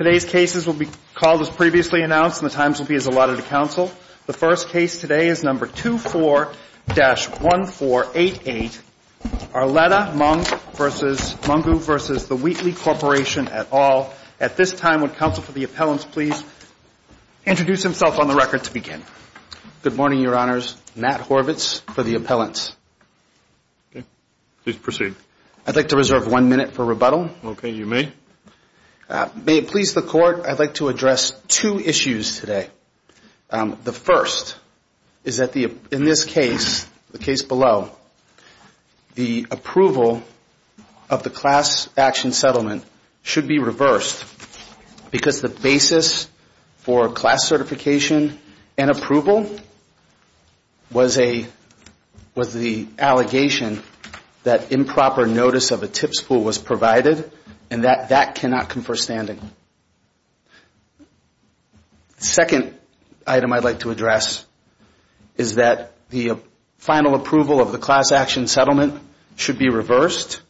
at all. At this time, would counsel for the appellants please introduce himself on the record to begin. Good morning, your honors. Matt Horvitz for the appellants. Please proceed. I'd like to reserve one minute for rebuttal. Okay. You may. May it please the court that the defendant, Mr. Horvitz, is guilty of the following crimes. If it please the court, I'd like to address two issues today. The first is that in this case, the case below, the approval of the class action settlement should be reversed because the basis for class certification and approval was the allegation that improper notice of a tip spool was provided and that that cannot confer standing. Second item I'd like to address is that the final approval of the class action settlement should be reversed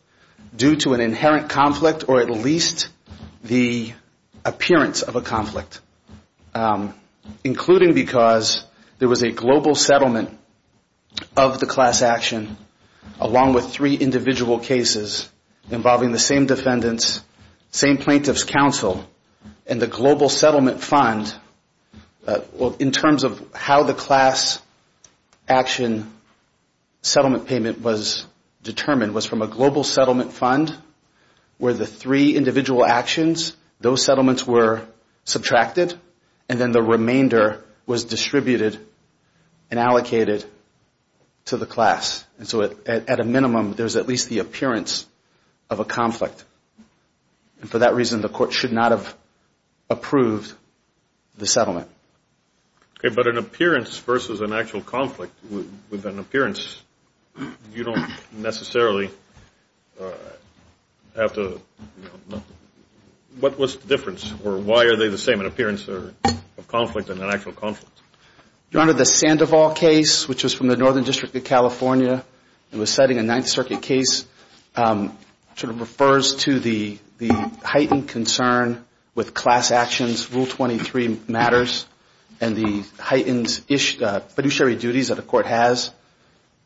due to an inherent conflict or at least the appearance of a conflict, including because there was a global settlement of the class action along with three individual cases involving the same defendants, same plaintiff's counsel and the global settlement fund in terms of how the class action settlement payment was determined was from a global settlement fund where the three individual actions, those settlements were subtracted and then the remainder was distributed and allocated to the class. And so at a minimum, there's at least the appearance of a conflict. And for that reason, the court should not have approved the settlement. Okay. But an appearance versus an actual conflict with an appearance, you don't necessarily have to What's the difference or why are they the same, an appearance or a conflict and an actual conflict? Your Honor, the Sandoval case, which was from the Northern District of California, it was citing a Ninth Circuit case, sort of refers to the heightened concern with class actions, Rule 23 matters and the heightened fiduciary duties that a court has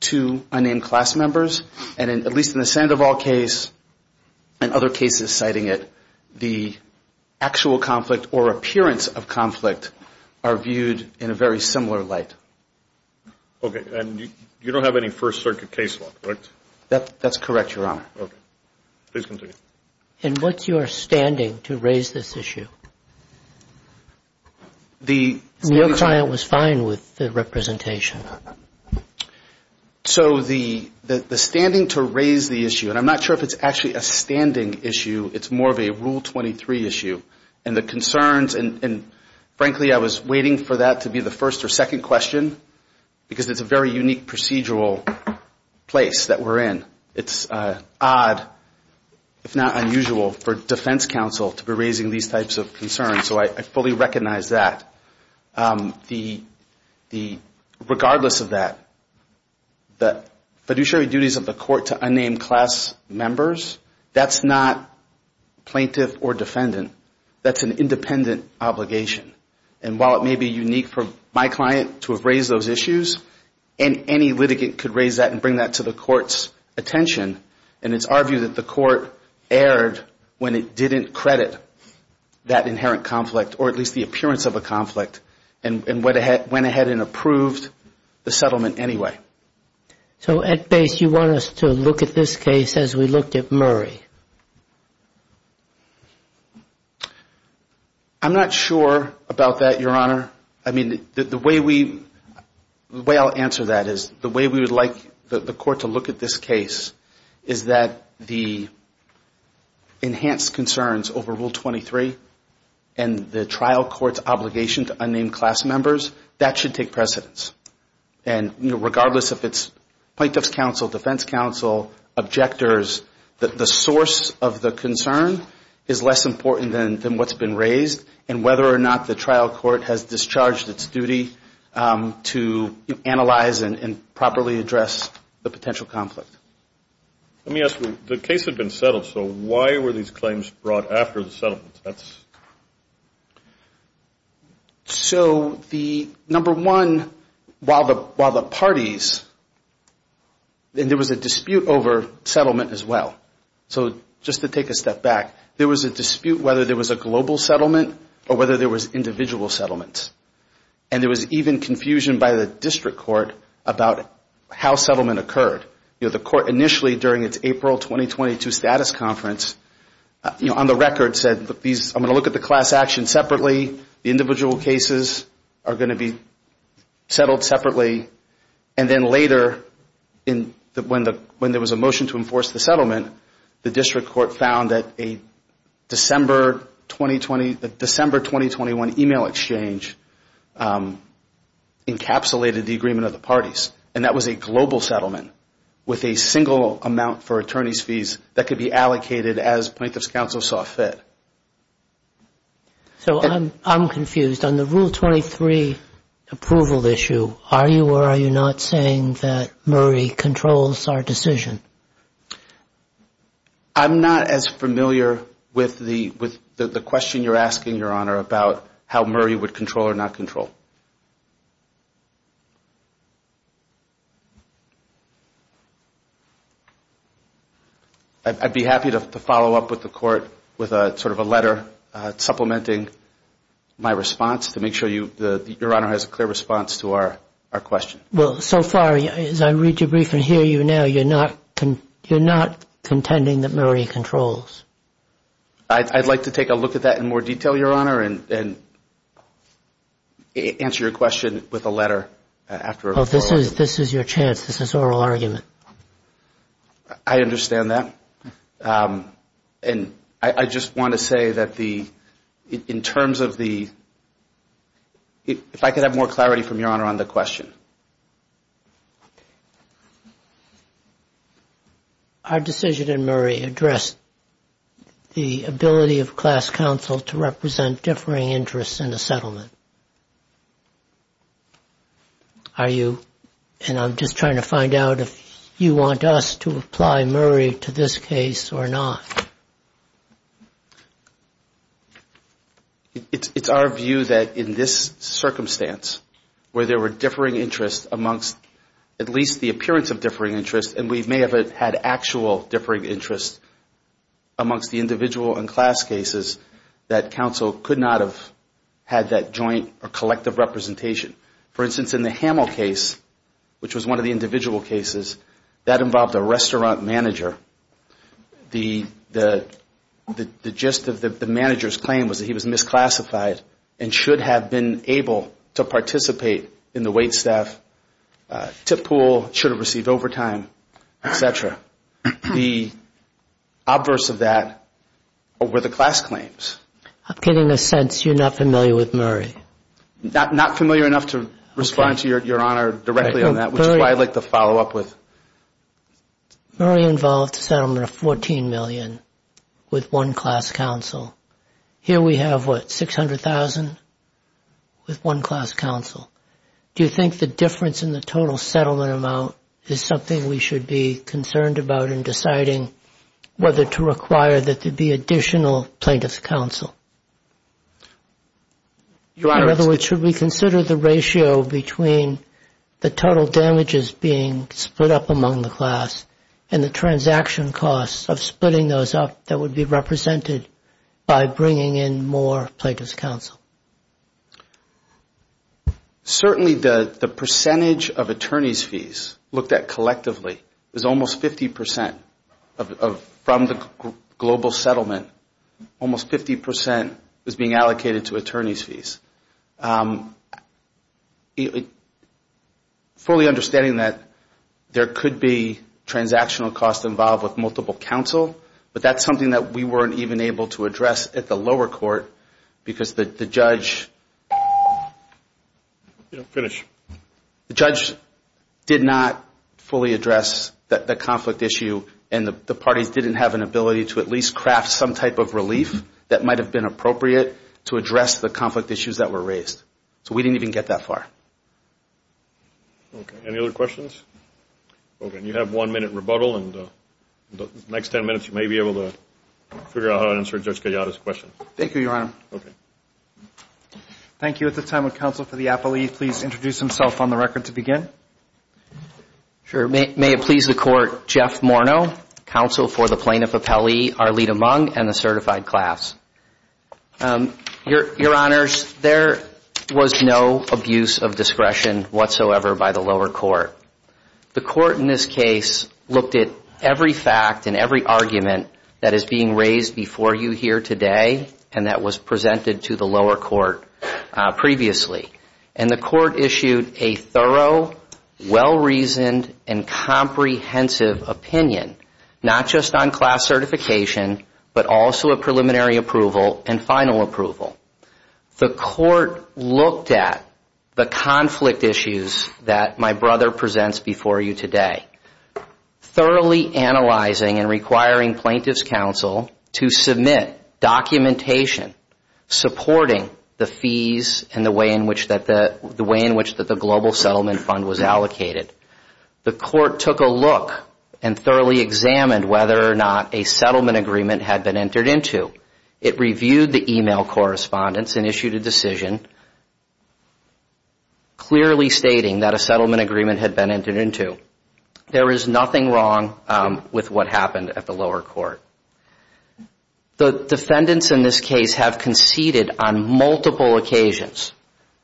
to unnamed class members. And at least in the Sandoval case and other cases citing it, the actual conflict or appearance of conflict are viewed in a very similar light. Okay. And you don't have any First Circuit case law, correct? That's correct, Your Honor. Okay. Please continue. And what's your standing to raise this issue? Your client was fine with the representation. So the standing to raise the issue, and I'm not sure if it's actually a standing issue, it's more of a Rule 23 issue. And the concerns, and frankly, I was waiting for that to be the first or second question, because it's a very unique procedural place that we're in. It's odd, if not unusual, for defense counsel to be raising these types of concerns. So I fully recognize that. Regardless of that, the fiduciary duties of the court to unnamed class members, that's not plaintiff or defendant. That's an independent obligation. And while it may be unique for my client to have raised those issues, and any litigant could raise that and bring that to the court's attention, and it's argued that the court erred when it didn't credit that inherent conflict or at least the appearance of a conflict and went ahead and approved the settlement anyway. So at base, you want us to look at this case as we looked at Murray? I'm not sure about that, Your Honor. I mean, the way I'll answer that is the way we would like the court to look at this case is that the enhanced concerns over Rule 23 and the trial court's obligation to unnamed class members, that should take precedence. And regardless if it's plaintiff's counsel, defense counsel, objectors, the source of the concern is less important than what's been raised and whether or not the trial court has discharged its duty to analyze and properly address the potential conflict. Let me ask you, the case had been settled, so why were these claims brought after the settlement? So the number one, while the parties, and there was a dispute over settlement as well. So just to take a step back, there was a dispute whether there was a global settlement or whether there was individual settlements. And there was even confusion by the district court about how settlement occurred. You know, the court initially during its April 2022 status conference, on the record said, I'm going to look at the class action separately. The individual cases are going to be settled separately. And then later, when there was a motion to enforce the settlement, the district court found that a December 2021 email exchange encapsulated the agreement of the parties. And that was a global settlement with a single amount for attorney's fees that could be allocated as plaintiff's counsel saw fit. So I'm confused. On the Rule 23 approval issue, are you or are you not saying that Murray controls our decision? I'm not as familiar with the question you're asking, Your Honor, about how Murray would control or not control. I'd be happy to follow up with the court with sort of a letter supplementing my response to make sure Your Honor has a clear response to our question. Well, so far, as I read your brief and hear you now, you're not contending that Murray controls. I'd like to take a look at that in more detail, Your Honor, and answer your question with a letter. This is your chance. This is oral argument. I understand that. And I just want to say that in terms of the – if I could have more clarity from Your Honor on the question. Our decision in Murray addressed the ability of class counsel to represent differing interests in a settlement. Are you – and I'm just trying to find out if you want us to apply Murray to this case or not. It's our view that in this circumstance where there were differing interests amongst at least the appearance of differing interests, and we may have had actual differing interests amongst the individual and class cases, that counsel could not have had that joint or collective representation. For instance, in the Hamill case, which was one of the individual cases, that involved a restaurant manager. The gist of the manager's claim was that he was misclassified and should have been able to participate in the waitstaff, tip pool, should have received overtime, et cetera. The obverse of that were the class claims. I'm getting a sense you're not familiar with Murray. Not familiar enough to respond to Your Honor directly on that, which is why I'd like to follow up with. Murray involved a settlement of $14 million with one class counsel. Here we have, what, $600,000 with one class counsel. Do you think the difference in the total settlement amount is something we should be concerned about in deciding whether to require that there be additional plaintiff's counsel? In other words, should we consider the ratio between the total damages being split up among the class and the transaction costs of splitting those up that would be represented by bringing in more plaintiff's counsel? Certainly the percentage of attorney's fees looked at collectively is almost 50% from the global settlement. Almost 50% is being allocated to attorney's fees. Fully understanding that there could be transactional costs involved with multiple counsel, but that's something that we weren't even able to address at the lower court, because the judge did not fully address the conflict issue and the parties didn't have an ability to at least craft some type of relief that might have been appropriate to address the conflict issues that were raised. So we didn't even get that far. Any other questions? Okay, and you have one minute rebuttal. In the next ten minutes you may be able to figure out how to answer Judge Gallardo's question. Thank you, Your Honor. Thank you. At this time, would counsel for the appellee please introduce himself on the record to begin? May it please the Court, Jeff Morneau, counsel for the plaintiff appellee Arlita Mung and the certified class. Your Honors, there was no abuse of discretion whatsoever by the lower court. The court in this case looked at every fact and every argument that is being raised before you here today and that was presented to the lower court previously. And the court issued a thorough, well-reasoned, and comprehensive opinion, not just on class certification, but also a preliminary approval and final approval. The court looked at the conflict issues that my brother presents before you today, thoroughly analyzing and requiring plaintiff's counsel to submit documentation supporting the fees and the way in which the Global Settlement Fund was allocated. The court took a look and thoroughly examined whether or not a settlement agreement had been entered into. It reviewed the email correspondence and issued a decision clearly stating that a settlement agreement had been entered into. There is nothing wrong with what happened at the lower court. The defendants in this case have conceded on multiple occasions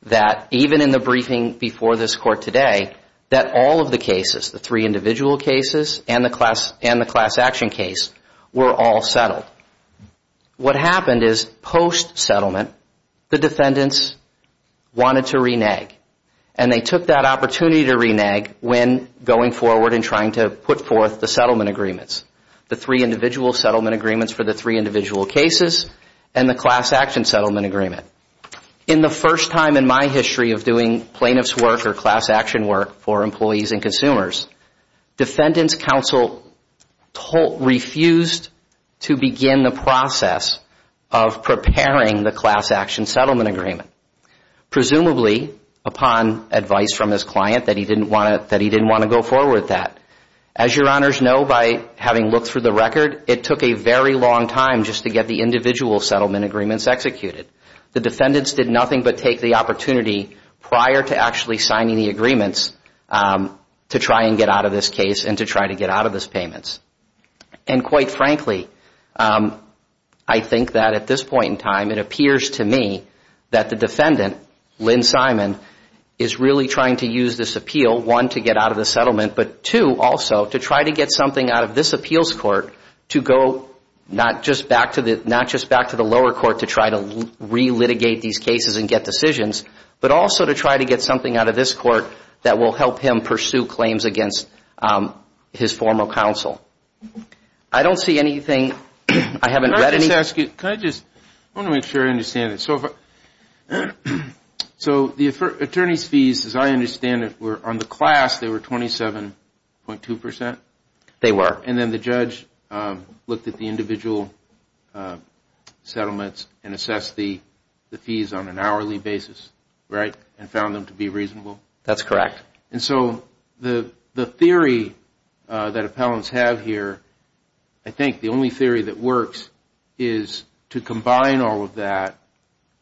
that even in the briefing before this court today, that all of the cases, the three individual cases and the class action case, were all settled. What happened is post-settlement, the defendants wanted to renege. And they took that opportunity to renege when going forward and trying to put forth the settlement agreements. The three individual settlement agreements for the three individual cases and the class action settlement agreement. In the first time in my history of doing plaintiff's work or class action work for employees and consumers, defendants' counsel refused to begin the process of preparing the class action settlement agreement. Presumably upon advice from his client that he didn't want to go forward with that. As your honors know by having looked through the record, it took a very long time just to get the individual settlement agreements executed. The defendants did nothing but take the opportunity prior to actually signing the agreements to try and get out of it. To get out of this case and to try to get out of these payments. And quite frankly, I think that at this point in time, it appears to me that the defendant, Lynn Simon, is really trying to use this appeal. One, to get out of the settlement, but two, also to try to get something out of this appeals court to go not just back to the lower court to try to re-litigate these cases and get decisions. But also to try to get something out of this court that will help him pursue claims against his former counsel. I don't see anything, I haven't read anything. So the attorney's fees, as I understand it, were on the class, they were 27.2%? They were. And then the judge looked at the individual settlements and assessed the fees on an hourly basis, right? And found them to be reasonable? That's correct. And so the theory that appellants have here, I think the only theory that works is to combine all of that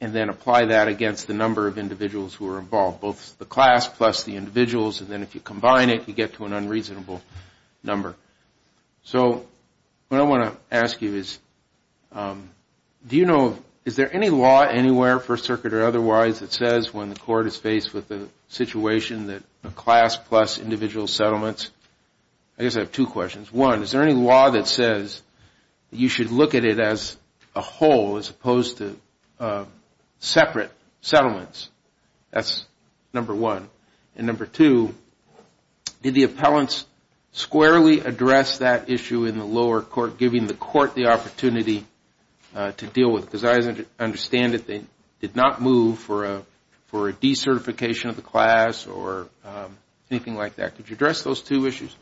and then apply that against the number of individuals who are involved. Both the class plus the individuals, and then if you combine it, you get to an unreasonable number. So what I want to ask you is, do you know, is there any law anywhere, First Circuit or otherwise, that says when the court is faced with a situation that a class plus individual settlements, I guess I have two questions. One, is there any law that says you should look at it as a whole as opposed to separate settlements? That's number one. And number two, did the appellants squarely address that issue in the lower court, giving the court the opportunity to deal with it? Because I understand that they did not move for a decertification of the class or anything like that. Could you address those two issues?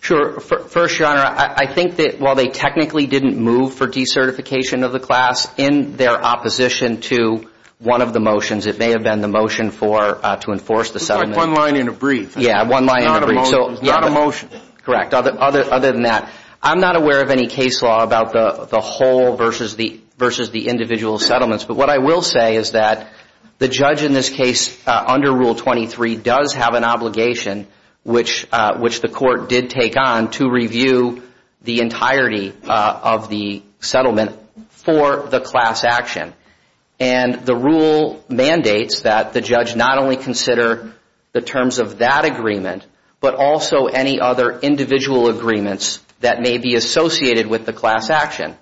Sure. First, Your Honor, I think that while they technically didn't move for decertification of the class, in their opposition to one of the motions, it may have been the motion to enforce the settlement. It's like one line in a brief. Yeah, one line in a brief. It's not a motion. Correct. Other than that, I'm not aware of any case law about the whole versus the individual settlements. But what I will say is that the judge in this case, under Rule 23, does have an obligation, which the court did take on, to review the entirety of the settlement for the class action. And the rule mandates that the judge not only consider the terms of that agreement, but also any other terms of the settlement. Any other individual agreements that may be associated with the class action.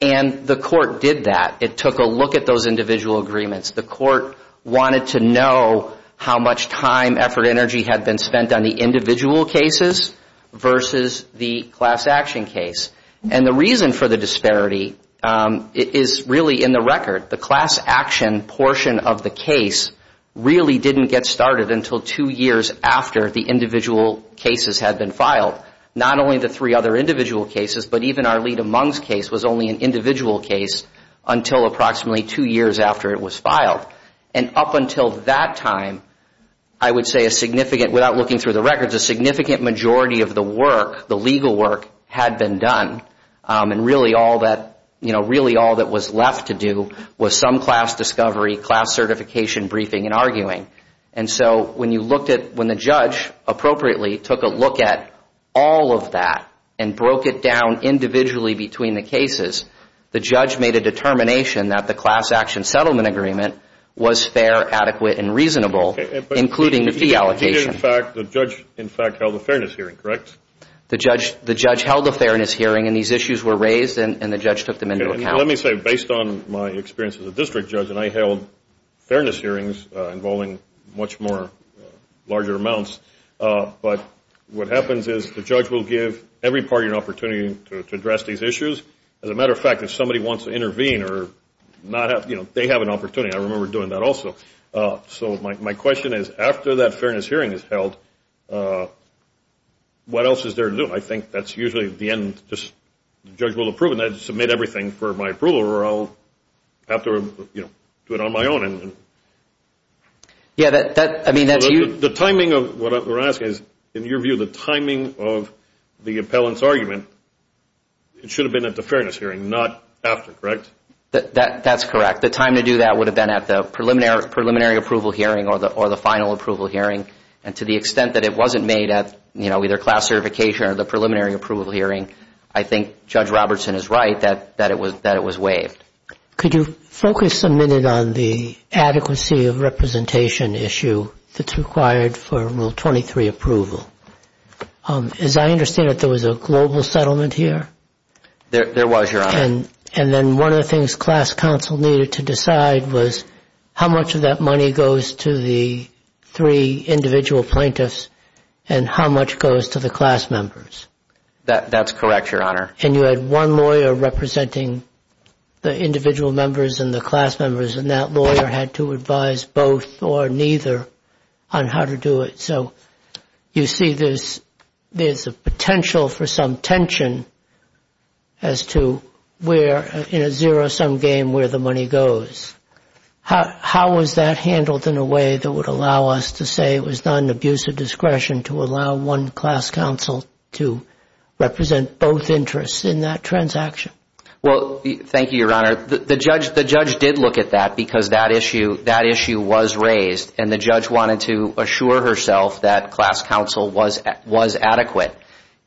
And the court did that. It took a look at those individual agreements. The court wanted to know how much time, effort, energy had been spent on the individual cases versus the class action case. And the reason for the disparity is really in the record. The class action portion of the case really didn't get started until two years after the individual cases had been filed. Not only the three other individual cases, but even our lead-amongst case was only an individual case until approximately two years after it was filed. And up until that time, I would say a significant, without looking through the records, a significant majority of the work, the legal work, had been done. And really all that was left to do was some class discovery, class certification briefing and arguing. And so when you looked at, when the judge appropriately took a look at all of that and broke it down individually between the cases, the judge made a determination that the class action settlement agreement was fair, adequate, and reasonable, including the fee allocation. The judge, in fact, held a fairness hearing, correct? The judge held a fairness hearing, and these issues were raised, and the judge took them into account. Let me say, based on my experience as a district judge, and I held fairness hearings involving much more larger amounts, but what happens is the judge will give every party an opportunity to address these issues. As a matter of fact, if somebody wants to intervene or not have, you know, they have an opportunity. I remember doing that also. So my question is, after that fairness hearing is held, what else is there to do? I think that's usually the end, just the judge will approve, and I submit everything for my approval, or I'll have to, you know, do it on my own. The timing of what we're asking is, in your view, the timing of the appellant's argument, it should have been at the fairness hearing, not after, correct? That's correct. The time to do that would have been at the preliminary approval hearing or the final approval hearing, and to the extent that it wasn't made at, you know, either class certification or the preliminary approval hearing, I think Judge Robertson is right that it was waived. Could you focus a minute on the adequacy of representation issue that's required for Rule 23 approval? As I understand it, there was a global settlement here? There was, Your Honor. And then one of the things class counsel needed to decide was how much of that money goes to the three individual plaintiffs, and how much goes to the class members. That's correct, Your Honor. And you had one lawyer representing the individual members and the class members, and that lawyer had to advise both or neither on how to do it. So you see there's a potential for some tension as to where, in a zero-sum game, where the money goes. How was that handled in a way that would allow us to say it was not an abuse of discretion to allow one class counsel to represent both interests in that transaction? Well, thank you, Your Honor. The judge did look at that because that issue was raised, and the judge wanted to assure herself that it was not an abuse of discretion. She wanted to assure herself that class counsel was adequate.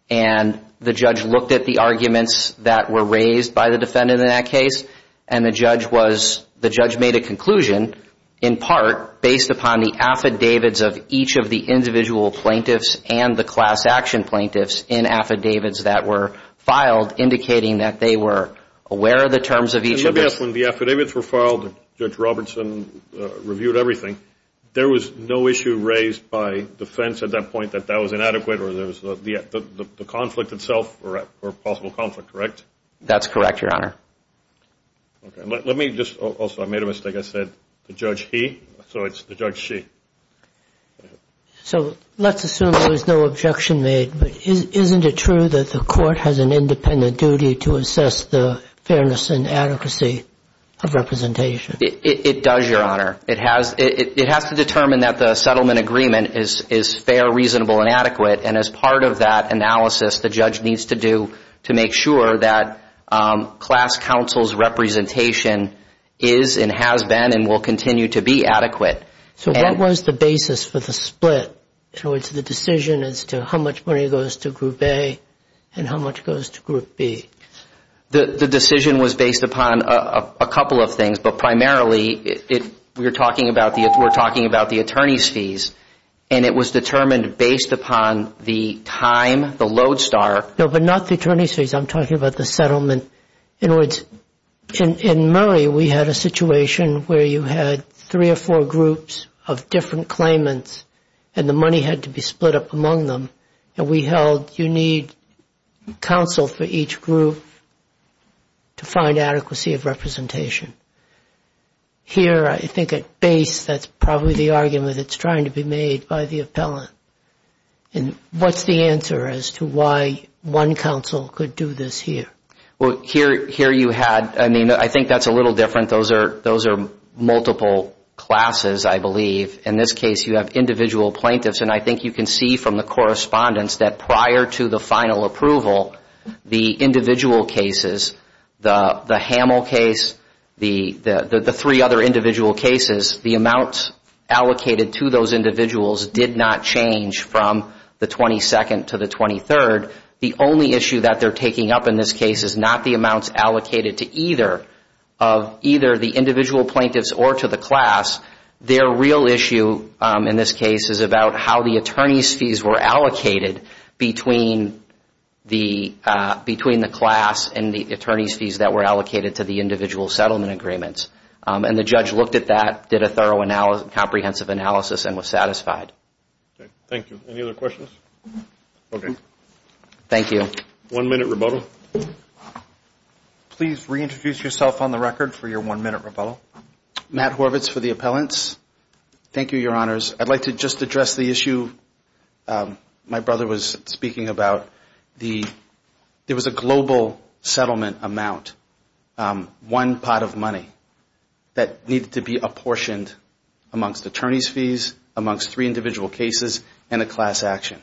And the judge looked at the arguments that were raised by the defendant in that case, and the judge made a conclusion, in part, based upon the affidavits of each of the individual plaintiffs and the class action plaintiffs in affidavits that were filed, indicating that they were aware of the terms of each of those. And the judge, when the affidavits were filed, Judge Robertson reviewed everything. There was no issue raised by defense at that point that that was inadequate or there was the conflict itself or possible conflict, correct? That's correct, Your Honor. Okay. Let me just also, I made a mistake. I said the judge he, so it's the judge she. So let's assume there was no objection made, but isn't it true that the court has an independent duty to assess the fairness and adequacy of representation? It does, Your Honor. It has to determine that the settlement agreement is fair, reasonable, and adequate, and as part of that analysis, the judge needs to do to make sure that class counsel's representation is and has been and will continue to be adequate. So what was the basis for the split, in other words, the decision as to how much money goes to Group A and how much goes to Group B? The decision was based upon a couple of things, but primarily we're talking about the attorney's fees, and it was determined based upon the time, the load star. No, but not the attorney's fees. I'm talking about the settlement. In other words, in Murray, we had a situation where you had three or four groups of different claimants, and the money had to be split up among them, and we held you need counsel for each group to find adequacy of representation. Here, I think at base, that's probably the argument that's trying to be made by the appellant. And what's the answer as to why one counsel could do this here? Well, here you had, I mean, I think that's a little different. Those are multiple classes, I believe. In this case, you have individual plaintiffs, and I think you can see from the correspondence that prior to the final approval, the individual cases, the Hamill case, the three other individual cases, the amounts allocated to those individuals did not change. From the 22nd to the 23rd, the only issue that they're taking up in this case is not the amounts allocated to either the individual plaintiffs or to the class. Their real issue in this case is about how the attorney's fees were allocated between the class and the attorney's fees that were allocated to the individual settlement agreements. And the judge looked at that, did a thorough comprehensive analysis, and was satisfied. Thank you. Any other questions? Okay. Thank you. One-minute rebuttal. Please reintroduce yourself on the record for your one-minute rebuttal. Matt Horvitz for the appellants. Thank you, Your Honors. I'd like to just address the issue my brother was speaking about. There was a global settlement amount, one pot of money, that needed to be apportioned amongst attorney's fees, amongst three individual cases, and a class action.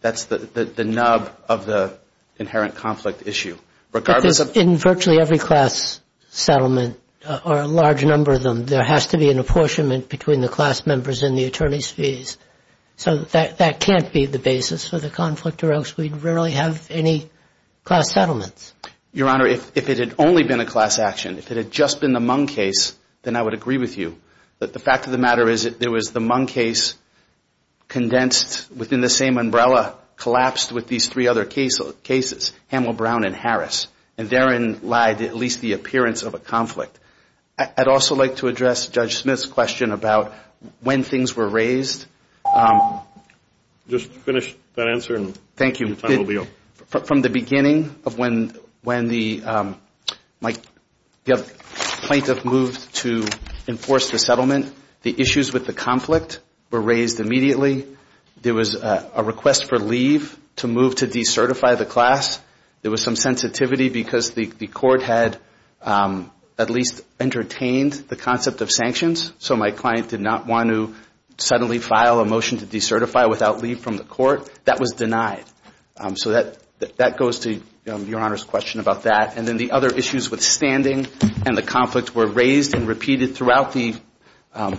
That's the nub of the inherent conflict issue. But in virtually every class settlement, or a large number of them, there has to be an apportionment between the class members and the attorney's fees. So that can't be the basis for the conflict, or else we'd rarely have any class settlements. Your Honor, if it had only been a class action, if it had just been the Mung case, then I would agree with you. But the fact of the matter is that there was the Mung case condensed within the same umbrella, collapsed with these three other cases, Hamel, Brown, and Harris. And therein lied at least the appearance of a conflict. I'd also like to address Judge Smith's question about when things were raised. Just finish that answer, and your time will be up. From the beginning of when the plaintiff moved to enforce the settlement, the issues with the conflict were raised immediately. There was a request for leave to move to decertify the class. There was some sensitivity because the court had at least entertained the concept of sanctions. So my client did not want to suddenly file a motion to decertify without leave from the court. That was denied. So that goes to your Honor's question about that. And then the other issues with standing and the conflict were raised and repeated throughout the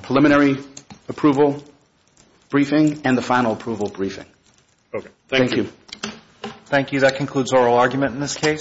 preliminary approval briefing and the final approval briefing. Thank you.